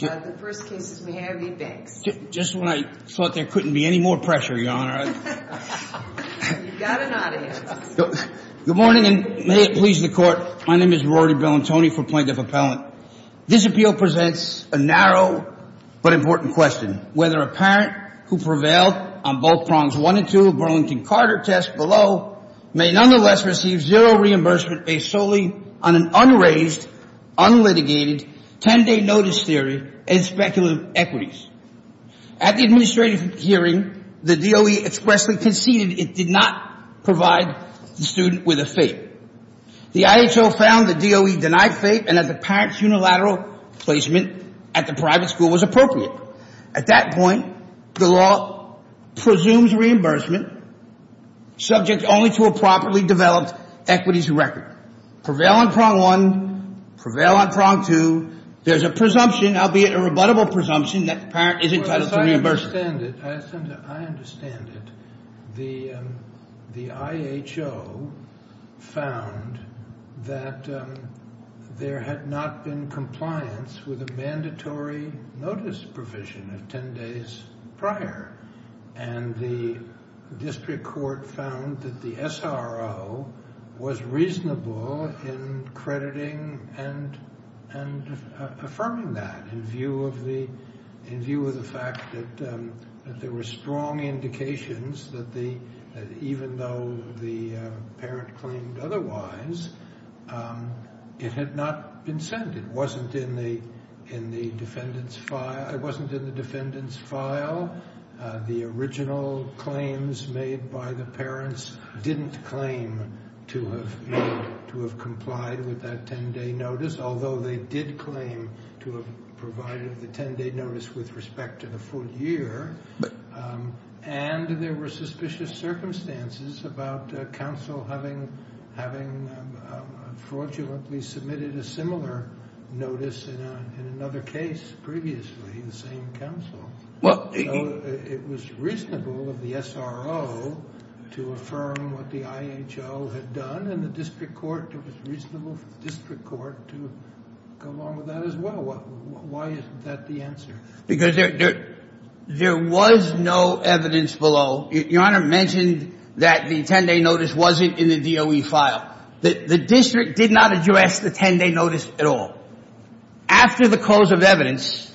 Good morning, and may it please the Court. My name is Rory Bellantoni for Plaintiff Appellant. This appeal presents a narrow but important question. Whether a parent who prevailed on both Prongs 1 and 2 of Burlington-Carter test below may nonetheless receive zero reimbursement based solely on an unraised, unlitigated, ten-day notice theory and speculative equities. At the administrative hearing, the DOE expressly conceded it did not provide the student with a FAPE. The IHO found the DOE denied FAPE and that the parent's unilateral placement at the private school was appropriate. At that point, the law presumes reimbursement subject only to a properly developed equities record. Prevail on Prong 1, prevail on Prong 2, there's a presumption, albeit a rebuttable presumption, that the parent isn't entitled to reimbursement. Well, as I understand it, the IHO found that there had not been compliance with a mandatory notice provision of ten days prior, and the district court found that the SRO was reasonable in crediting and affirming that, in view of the fact that there were strong indications that even though the parent claimed otherwise, it had not been sent, it wasn't in the defendant's file, the original claims made by the parents didn't claim to have complied with that ten-day notice, although they did claim to have provided the ten-day notice with respect to the full year, and there were suspicious circumstances about counsel having fraudulently submitted a similar notice in another case previously, the same counsel, so it was reasonable of the SRO to affirm what the IHO had done, and the district court, it was reasonable for the district court to go along with that as well. Why isn't that the answer? Because there was no evidence below. Your Honor mentioned that the ten-day notice wasn't in the DOE file. The district did not address the ten-day notice at all. After the close of evidence,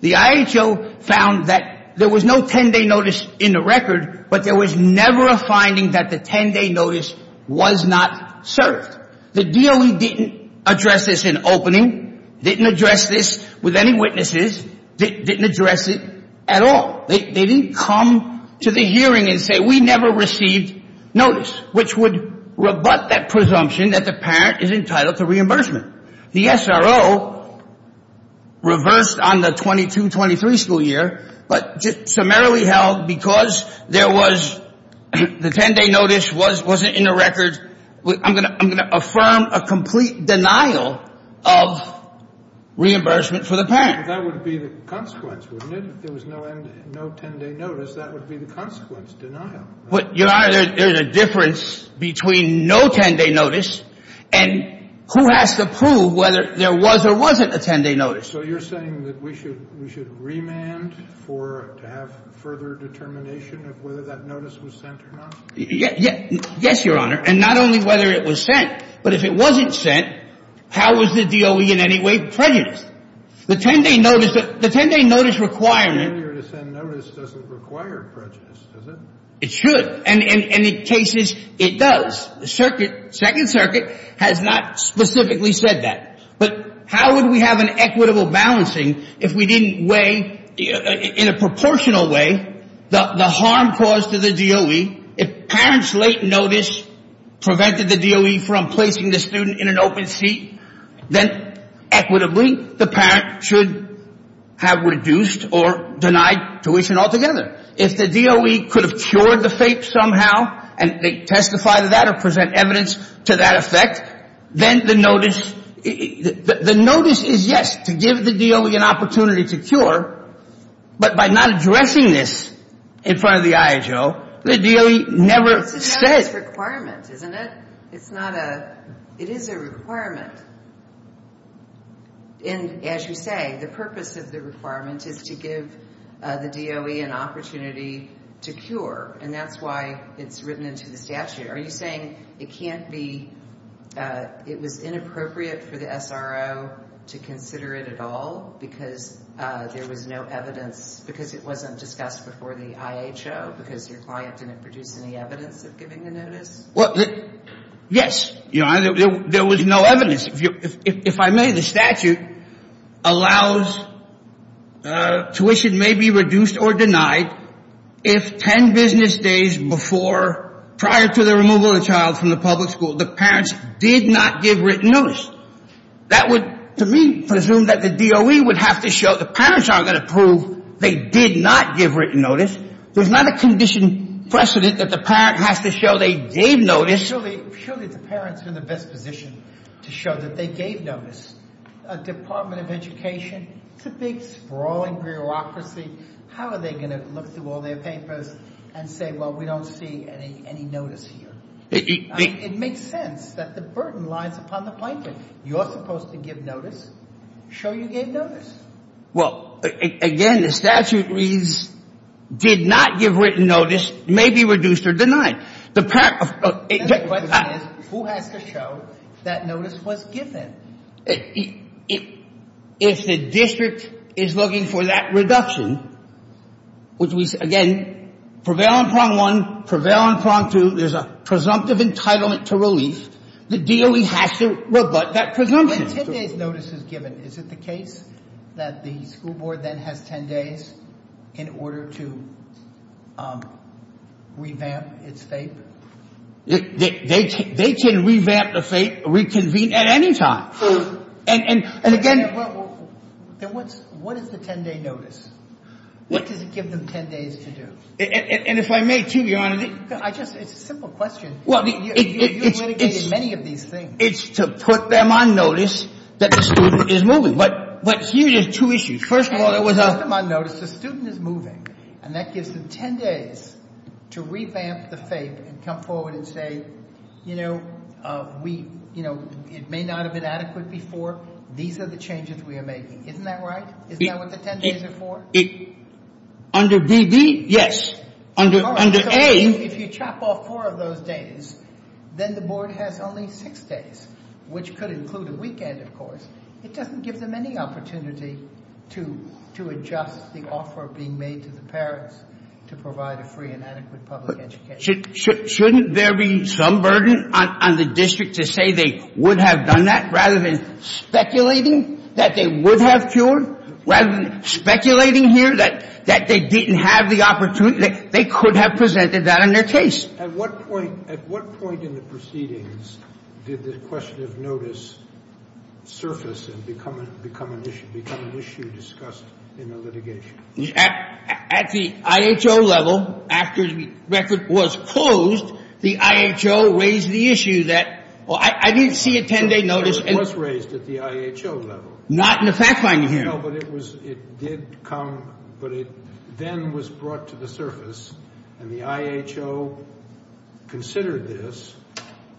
the IHO found that there was no ten-day notice in the record, but there was never a finding that the ten-day notice was not served. The DOE didn't address this in opening, didn't address this with any witnesses, didn't address it at all. They didn't come to the hearing and say, we never received notice, which would rebut that presumption that the parent is entitled to reimbursement. The SRO reversed on the 22-23 school year, but just summarily held, because there was the ten-day notice wasn't in the record, I'm going to affirm a complete denial of reimbursement for the parent. That would be the consequence, wouldn't it? If there was no ten-day notice, that would be the consequence, denial. Your Honor, there's a difference between no ten-day notice and who has to prove whether there was or wasn't a ten-day notice. So you're saying that we should remand to have further determination of whether that notice was sent or not? Yes, Your Honor. And not only whether it was sent, but if it wasn't sent, how was the DOE in any way prejudiced? The ten-day notice requirement... Failure to send notice doesn't require prejudice, does it? It should. And in cases, it does. The Circuit, Second Circuit, has not specifically said that. But how would we have an equitable balancing if we didn't weigh, in a proportional way, the harm caused to the DOE if parents' late notice prevented the DOE from placing the student in an open seat, then, equitably, the parent should have reduced or denied tuition altogether. If the DOE could have cured the fate somehow, and they testify to that or present evidence to that effect, then the notice is, yes, to give the DOE an opportunity to cure. But by not addressing this in front of the IHO, the DOE never said... It's a requirement, isn't it? It's not a... It is a requirement. And, as you say, the purpose of the requirement is to give the DOE an opportunity to cure, and that's why it's written into the statute. Are you saying it can't be... It was inappropriate for the SRO to consider it at all because there was no evidence... Because it wasn't discussed before the IHO, because your client didn't produce any evidence of giving the notice? Yes. There was no evidence. If I may, the statute allows tuition may be reduced or denied if 10 business days before, prior to the removal of the child from the public school, the parents did not give written notice. That would, to me, presume that the DOE would have to show the parents aren't going to prove they did not give written notice. There's not a condition precedent that the parent has to show they gave notice... Surely the parents are in the best position to show that they gave notice. A Department of Education, it's a big, sprawling bureaucracy. How are they going to look through all their papers and say, well, we don't see any notice here? I mean, it makes sense that the burden lies upon the plaintiff. You're supposed to give notice, show you gave notice. Well, again, the statute reads, did not give written notice, may be reduced or denied. The question is, who has to show that notice was given? If the district is looking for that reduction, which we, again, prevail on prong one, prevail on prong two, there's a presumptive entitlement to relief, the DOE has to rebut that presumption. When 10 days notice is given, is it the case that the school board then has 10 days in order to revamp its fate? They can revamp the fate, reconvene at any time. And again... Then what is the 10 day notice? What does it give them 10 days to do? And if I may, too, Your Honor... I just... It's a simple question. You have litigated many of these things. It's to put them on notice that the student is moving. But here's two issues. First of all, there was a... To put them on notice the student is moving, and that gives them 10 days to revamp the fate and come forward and say, you know, it may not have been adequate before, these are the changes we are making. Isn't that right? Isn't that what the 10 days are for? Under D.B., yes. Under A... If you chop off four of those days, then the board has only six days, which could include a weekend, of course. It doesn't give them any opportunity to adjust the offer being made to the parents to provide a free and adequate public education. Shouldn't there be some burden on the district to say they would have done that, rather than speculating that they would have cured, rather than speculating here that they didn't have the opportunity... They could have presented that in their case. At what point in the proceedings did the question of notice surface and become an issue discussed in the litigation? At the I.H.O. level, after the record was closed, the I.H.O. raised the issue that... I didn't see a 10-day notice... It was raised at the I.H.O. level. Not in the fact-finding hearing. No, but it was... It did come... But it then was brought to the surface, and the I.H.O. considered this.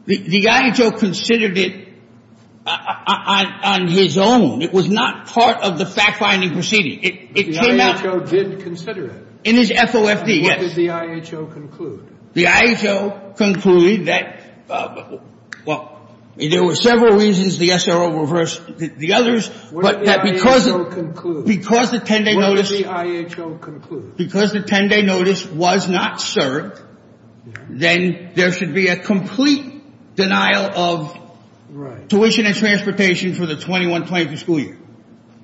The I.H.O. considered it on his own. It was not part of the fact-finding proceeding. It came out... But the I.H.O. did consider it. In his FOFD, yes. What did the I.H.O. conclude? The I.H.O. concluded that, well, there were several reasons the SRO reversed the others, but that because... What did the I.H.O. conclude? Because the 10-day notice... What did the I.H.O. conclude? Because the 10-day notice was not served, then there should be a complete denial of... Right. ...tuition and transportation for the 2021-2022 school year.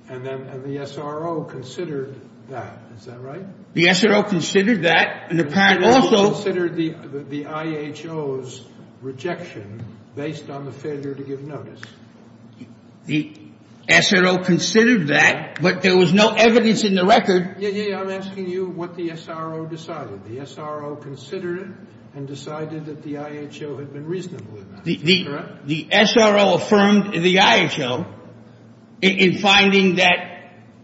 And then the SRO considered that. Is that right? The SRO considered that, and the parent also... The SRO considered the I.H.O.'s rejection based on the failure to give notice. The SRO considered that, but there was no evidence in the record... Yeah, yeah, yeah. I'm asking you what the SRO decided. The SRO considered it and decided that the I.H.O. had been reasonable enough. Is that correct? The SRO affirmed the I.H.O. in finding that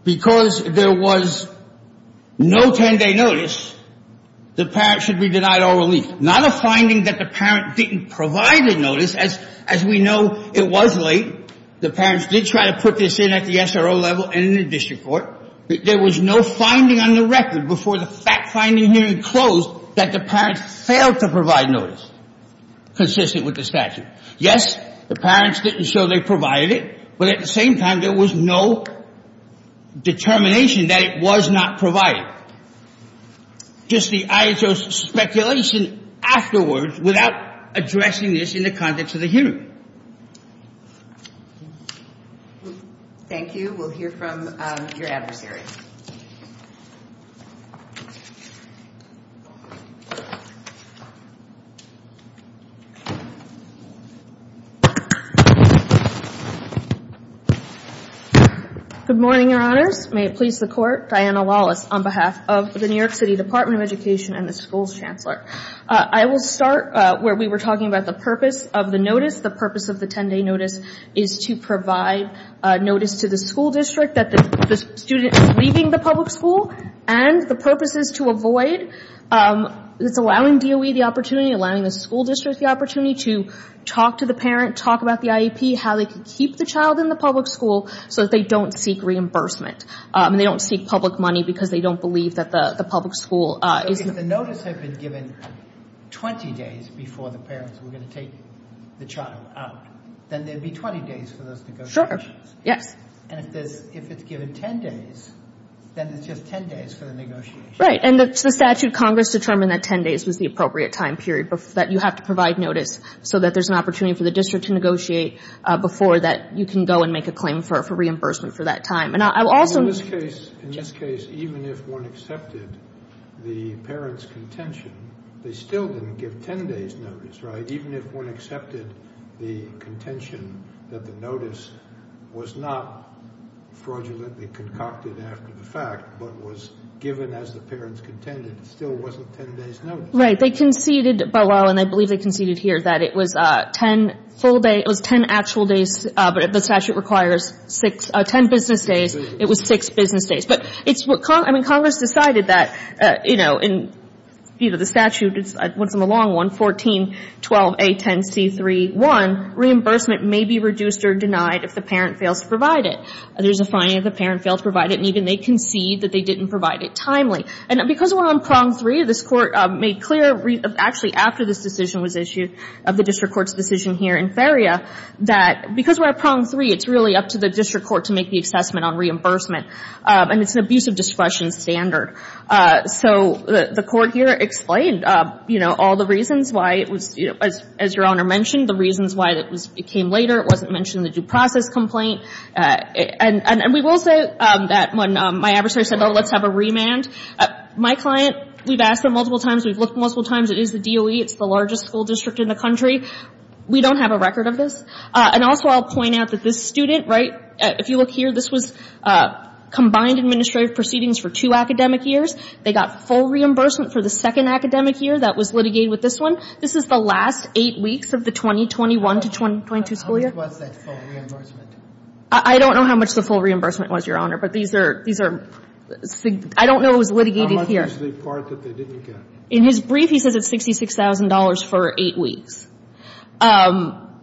because there was no 10-day notice, the parent should be denied all relief. Not a finding that the parent didn't provide a notice. As we know, it was late. The parents did try to put this in at the SRO level and in the district court. There was no finding on the record before the fact-finding hearing closed that the parents failed to provide notice consistent with the statute. Yes, the parents didn't show they provided it. But at the same time, there was no determination that it was not provided. Just the I.H.O.'s speculation afterwards without addressing this in the context of the hearing. Thank you. We'll hear from your adversary. Good morning, Your Honors. May it please the Court, I'm Diana Wallace on behalf of the New York City Department of Education and the school's chancellor. I will start where we were talking about the purpose of the notice. The purpose of the 10-day notice is to provide notice to the school district that the student is leaving the public school. And the purpose is to avoid allowing DOE the opportunity, allowing the school district the opportunity to talk to the parent, talk about the IEP, how they can keep the child in the public school so that they don't seek reimbursement. They don't seek public money because they don't believe that the public school is... If the notice had been given 20 days before the parents were going to take the child out, then there'd be 20 days for those negotiations. Sure, yes. And if it's given 10 days, then it's just 10 days for the negotiations. Right, and the statute, Congress determined that 10 days was the appropriate time period that you have to provide notice so that there's an opportunity for the district to negotiate before that you can go and make a claim for reimbursement for that time. In this case, even if one accepted the parent's contention, they still didn't give 10 days' notice, right? Even if one accepted the contention that the notice was not fraudulently concocted after the fact but was given as the parents contended, it still wasn't 10 days' notice. Right, they conceded, and I believe they conceded here, that it was 10 actual days, but the statute requires 10 business days. It was 6 business days. But it's what Congress, I mean, Congress decided that, you know, in view of the statute, it's a long one, 14-12-A-10-C-3-1, reimbursement may be reduced or denied if the parent fails to provide it. There's a finding that the parent failed to provide it, and even they conceded that they didn't provide it timely. And because we're on prong three, this Court made clear, actually after this decision was issued, of the district court's decision here in Ferria, that because we're at prong three, it's really up to the district court to make the assessment on reimbursement. And it's an abuse of discretion standard. So the Court here explained, you know, all the reasons why it was, as your Honor mentioned, the reasons why it came later, it wasn't mentioned in the due process complaint. And we will say that when my adversary said, oh, let's have a remand, my client, we've asked them multiple times, we've looked multiple times, it is the DOE, it's the largest school district in the country. We don't have a record of this. And also I'll point out that this student, right, if you look here, this was combined administrative proceedings for two academic years. They got full reimbursement for the second academic year that was litigated with this one. This is the last eight weeks of the 2021 to 2022 school year. How much was that full reimbursement? I don't know how much the full reimbursement was, your Honor. But these are, I don't know what was litigated here. How much was the part that they didn't get? In his brief, he says it's $66,000 for eight weeks.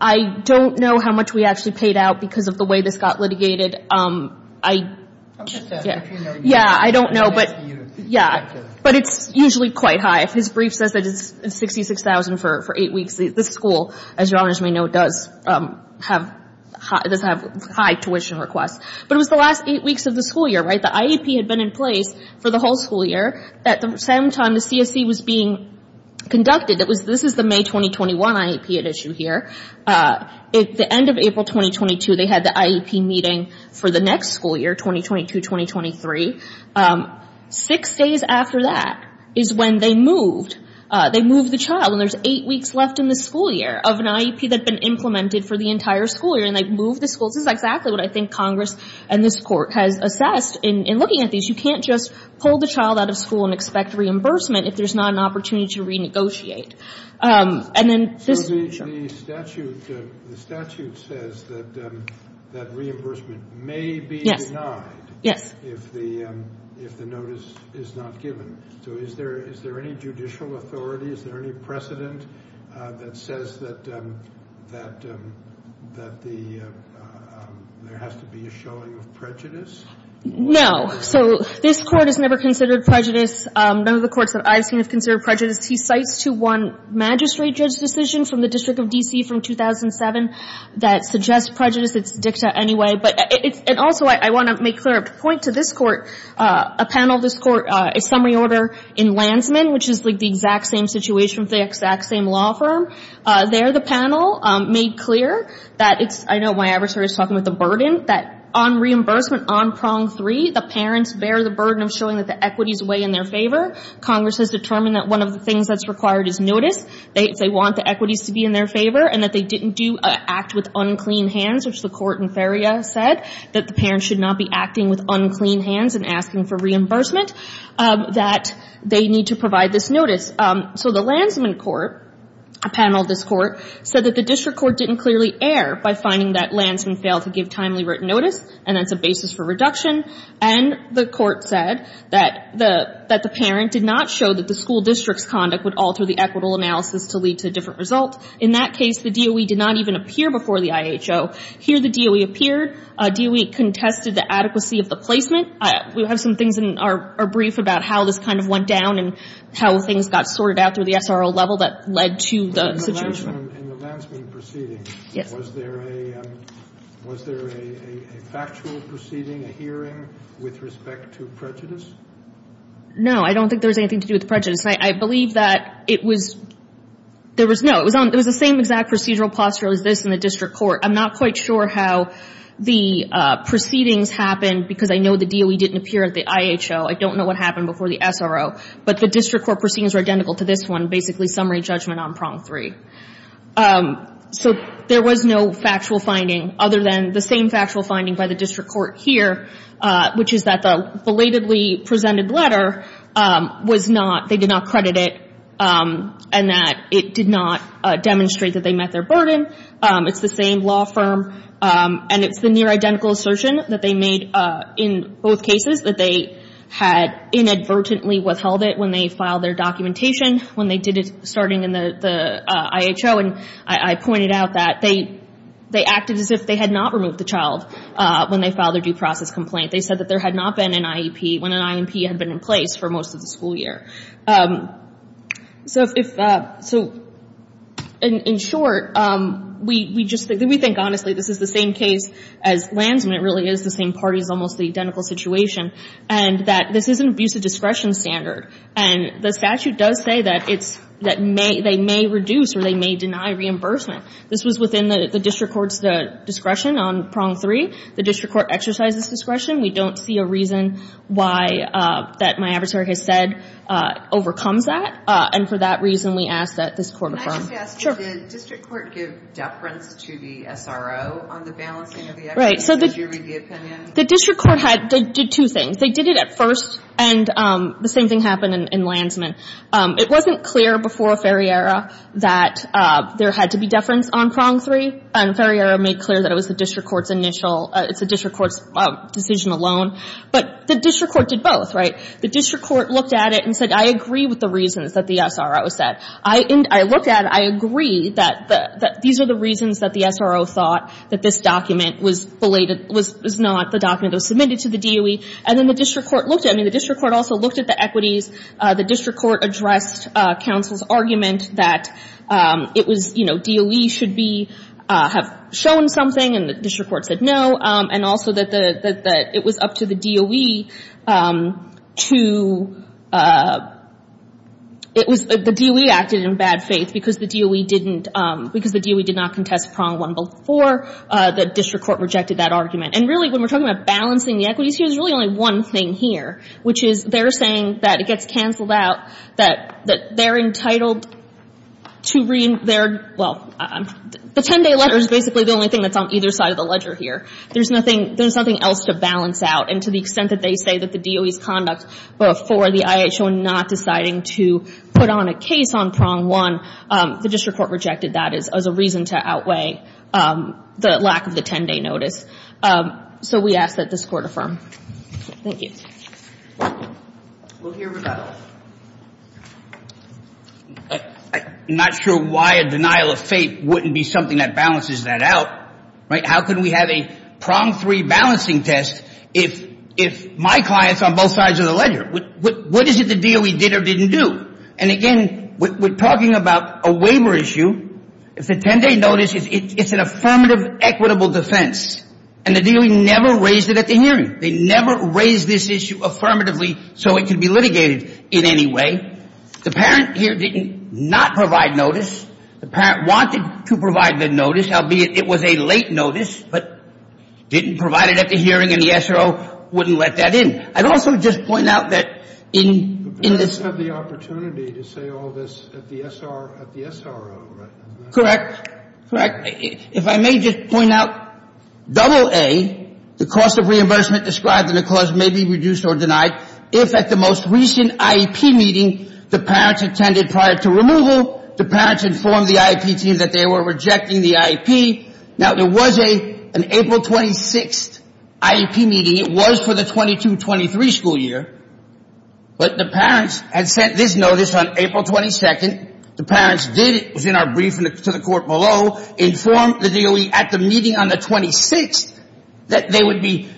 I don't know how much we actually paid out because of the way this got litigated. I don't know. But it's usually quite high. His brief says that it's $66,000 for eight weeks. This school, as your Honors may know, does have high tuition requests. But it was the last eight weeks of the school year, right? The IEP had been in place for the whole school year. At the same time, the CSE was being conducted. This is the May 2021 IEP at issue here. At the end of April 2022, they had the IEP meeting for the next school year, 2022-2023. Six days after that is when they moved the child. And there's eight weeks left in the school year of an IEP that had been implemented for the entire school year. And they moved the school. This is exactly what I think Congress and this Court has assessed in looking at these. You can't just pull the child out of school and expect reimbursement if there's not an opportunity to renegotiate. And then this... So the statute says that reimbursement may be denied if the notice is not given. So is there any judicial authority? Is there any precedent that says that there has to be a showing of prejudice? No. So this Court has never considered prejudice. None of the courts that I've seen have considered prejudice. He cites to one magistrate judge decision from the District of D.C. from 2007 that suggests prejudice. It's dicta anyway. But it's... And also I want to make clear a point to this Court. A panel of this Court a summary order in Lansman, which is like the exact same situation with the exact same law firm. There the panel made clear that it's... I know my adversary is talking about the burden that on reimbursement on prong three the parents bear the burden of showing that the equities weigh in their favor. Congress has determined that one of the things that's required is notice if they want the equities to be in their favor and that they didn't do act with unclean hands, which the Court in Feria said that the parents should not be acting with unclean hands and asking for reimbursement, that they need to provide this notice. So the Lansman Court, a panel of this Court, said that the District Court didn't clearly err by finding that Lansman failed to give timely written notice and that's a basis for reduction. And the Court said that the parent did not show that the school district's conduct would alter the equitable analysis to lead to a different result. In that case, the DOE did not even appear before the IHO. Here the DOE appeared. DOE contested the adequacy of the placement. We have some things in our brief about how this kind of went down and how things got sorted out through the SRO level that led to the situation. In the Lansman proceeding, was there a factual proceeding, a hearing with respect to prejudice? No. I don't think there was anything to do with prejudice. I believe that it was, there was no, it was the same exact procedural posture as this in the District Court. I'm not quite sure how the proceedings happened because I know the DOE didn't appear at the IHO. I don't know what happened before the SRO. But the District Court proceedings were identical to this one, basically summary judgment on prong three. So there was no factual finding other than the same factual finding by the District Court here, which is that the belatedly presented letter was not, they did not credit it, and that it did not demonstrate that they met their burden. It's the same law firm, and it's the near-identical assertion that they made in both cases, that they had inadvertently withheld it when they filed their documentation, when they did it starting in the IHO. And I pointed out that they acted as if they had not removed the child when they filed their due process complaint. They said that there had not been an IEP when an IEP had been in place for most of the school year. So if, so in short, we just think, we think honestly this is the same case as Lansman, it really is the same party is almost the identical situation, and that this is an abusive discretion standard. And the statute does say that it's, that may, they may reduce or they may deny reimbursement. This was within the District Court's discretion on prong three. The District Court exercised this discretion. We don't see a reason why, that my adversary has said that this is an abusive And for that reason we ask that this court affirm. Can I just ask, did the District Court give deference to the SRO on the balancing of the equity and the juridical opinion? The District Court did two things. They did it at first and the same thing happened in Lansman. It wasn't clear before Ferriera that there had to be deference on prong three. And Ferriera made clear that it was the District Court's initial, it's the District Court's decision alone. But the District Court did both, right? The District Court looked at it and said, I agree with the reasons that the SRO said. I looked at it, I agree that these are the reasons that the SRO thought that this document was belated, was not the document that was submitted to the DOE. And then the District Court looked at it. I mean, the District Court also looked at the equities. The District Court addressed counsel's argument that it was, DOE should be, have shown something and the District Court said no. And also that it was up to the DOE to, it was the DOE acted in bad faith because the DOE didn't, because the DOE did not contest prong one before the District Court rejected that argument. And really, when we're talking about balancing the equities, here's really only one thing here, which is they're saying that it gets canceled out, that they're entitled to rein, they're, well, the 10-day letter is basically the only thing that's on either side of the ledger here. There's nothing, there's nothing else to balance out. And to the extent that they say that the DOE's conduct before the IHO not deciding to put on a case on prong one, the District Court rejected that as a reason to outweigh the lack of the 10-day notice. So we ask that this Court affirm. Thank you. We'll hear from Douglas. I'm not sure why a denial of faith wouldn't be something that balances that out. Right? How can we have a prong three balancing test if my client's on both sides of the ledger? What is it the DOE did or didn't do? And again, we're talking about a waiver issue. It's a 10-day notice. It's an affirmative, equitable defense. And the DOE never raised it at the hearing. They never raised this issue affirmatively so it could be litigated in any way. The parent here did not provide notice. The parent wanted to provide the notice, albeit it was a late notice, but didn't provide it at the hearing and the SRO wouldn't let that in. I'd also just point out that in this The parents have the opportunity to say all this at the SRO, right? Correct. Correct. If I may just point out double A, the cost of reimbursement described in the clause may be reduced or denied if at the most recent IEP meeting the parents attended prior to removal, the parents informed the IEP team that they were rejecting the IEP. Now, there was a an April 26th IEP meeting. It was for the 22-23 school year, but the parents had sent this notice on April 22nd. The parents did it, it was in our briefing to the court below, informed the DOE at the meeting on the 26th that they would be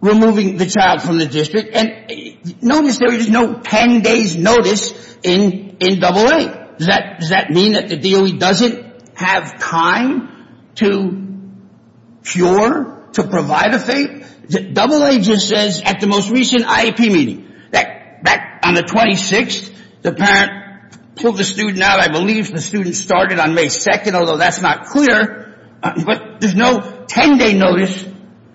removing the child from the district and notice there was no 10 days notice in double A. Does that mean that the DOE doesn't have time to cure, to provide a fate? Double A just says at the most recent IEP meeting. Back on the 26th, the parent pulled the student out, I believe the student started on May 2nd, although that's not clear, but there's no 10 day notice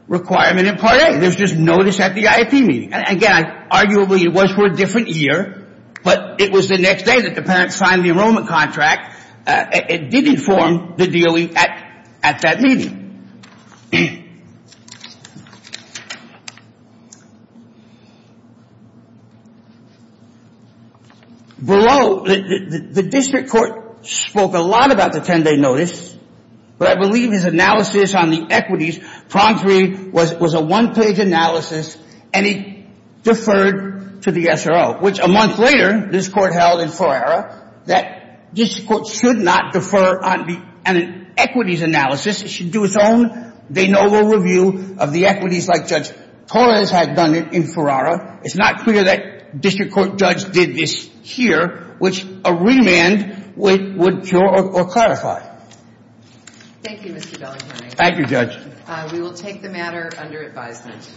requirement in part A. There's just notice at the IEP meeting. Again, arguably it was for a different year, but it was the next day that the parents signed the enrollment contract and did inform the DOE at that meeting. Below, the district court spoke a lot about the 10 day notice, but I believe his analysis on the equities promptery was a one page analysis and he deferred to the SRO, which a month later this court held in Ferrara that this court should not defer on the equities analysis. It should do its own de novo review of the equities like Judge Torres had done it in Ferrara. It's not clear that district court judge did this here, which a remand would cure or clarify. Thank you, Mr. Bellingham. Thank you, Judge. We will take the matter under advisement.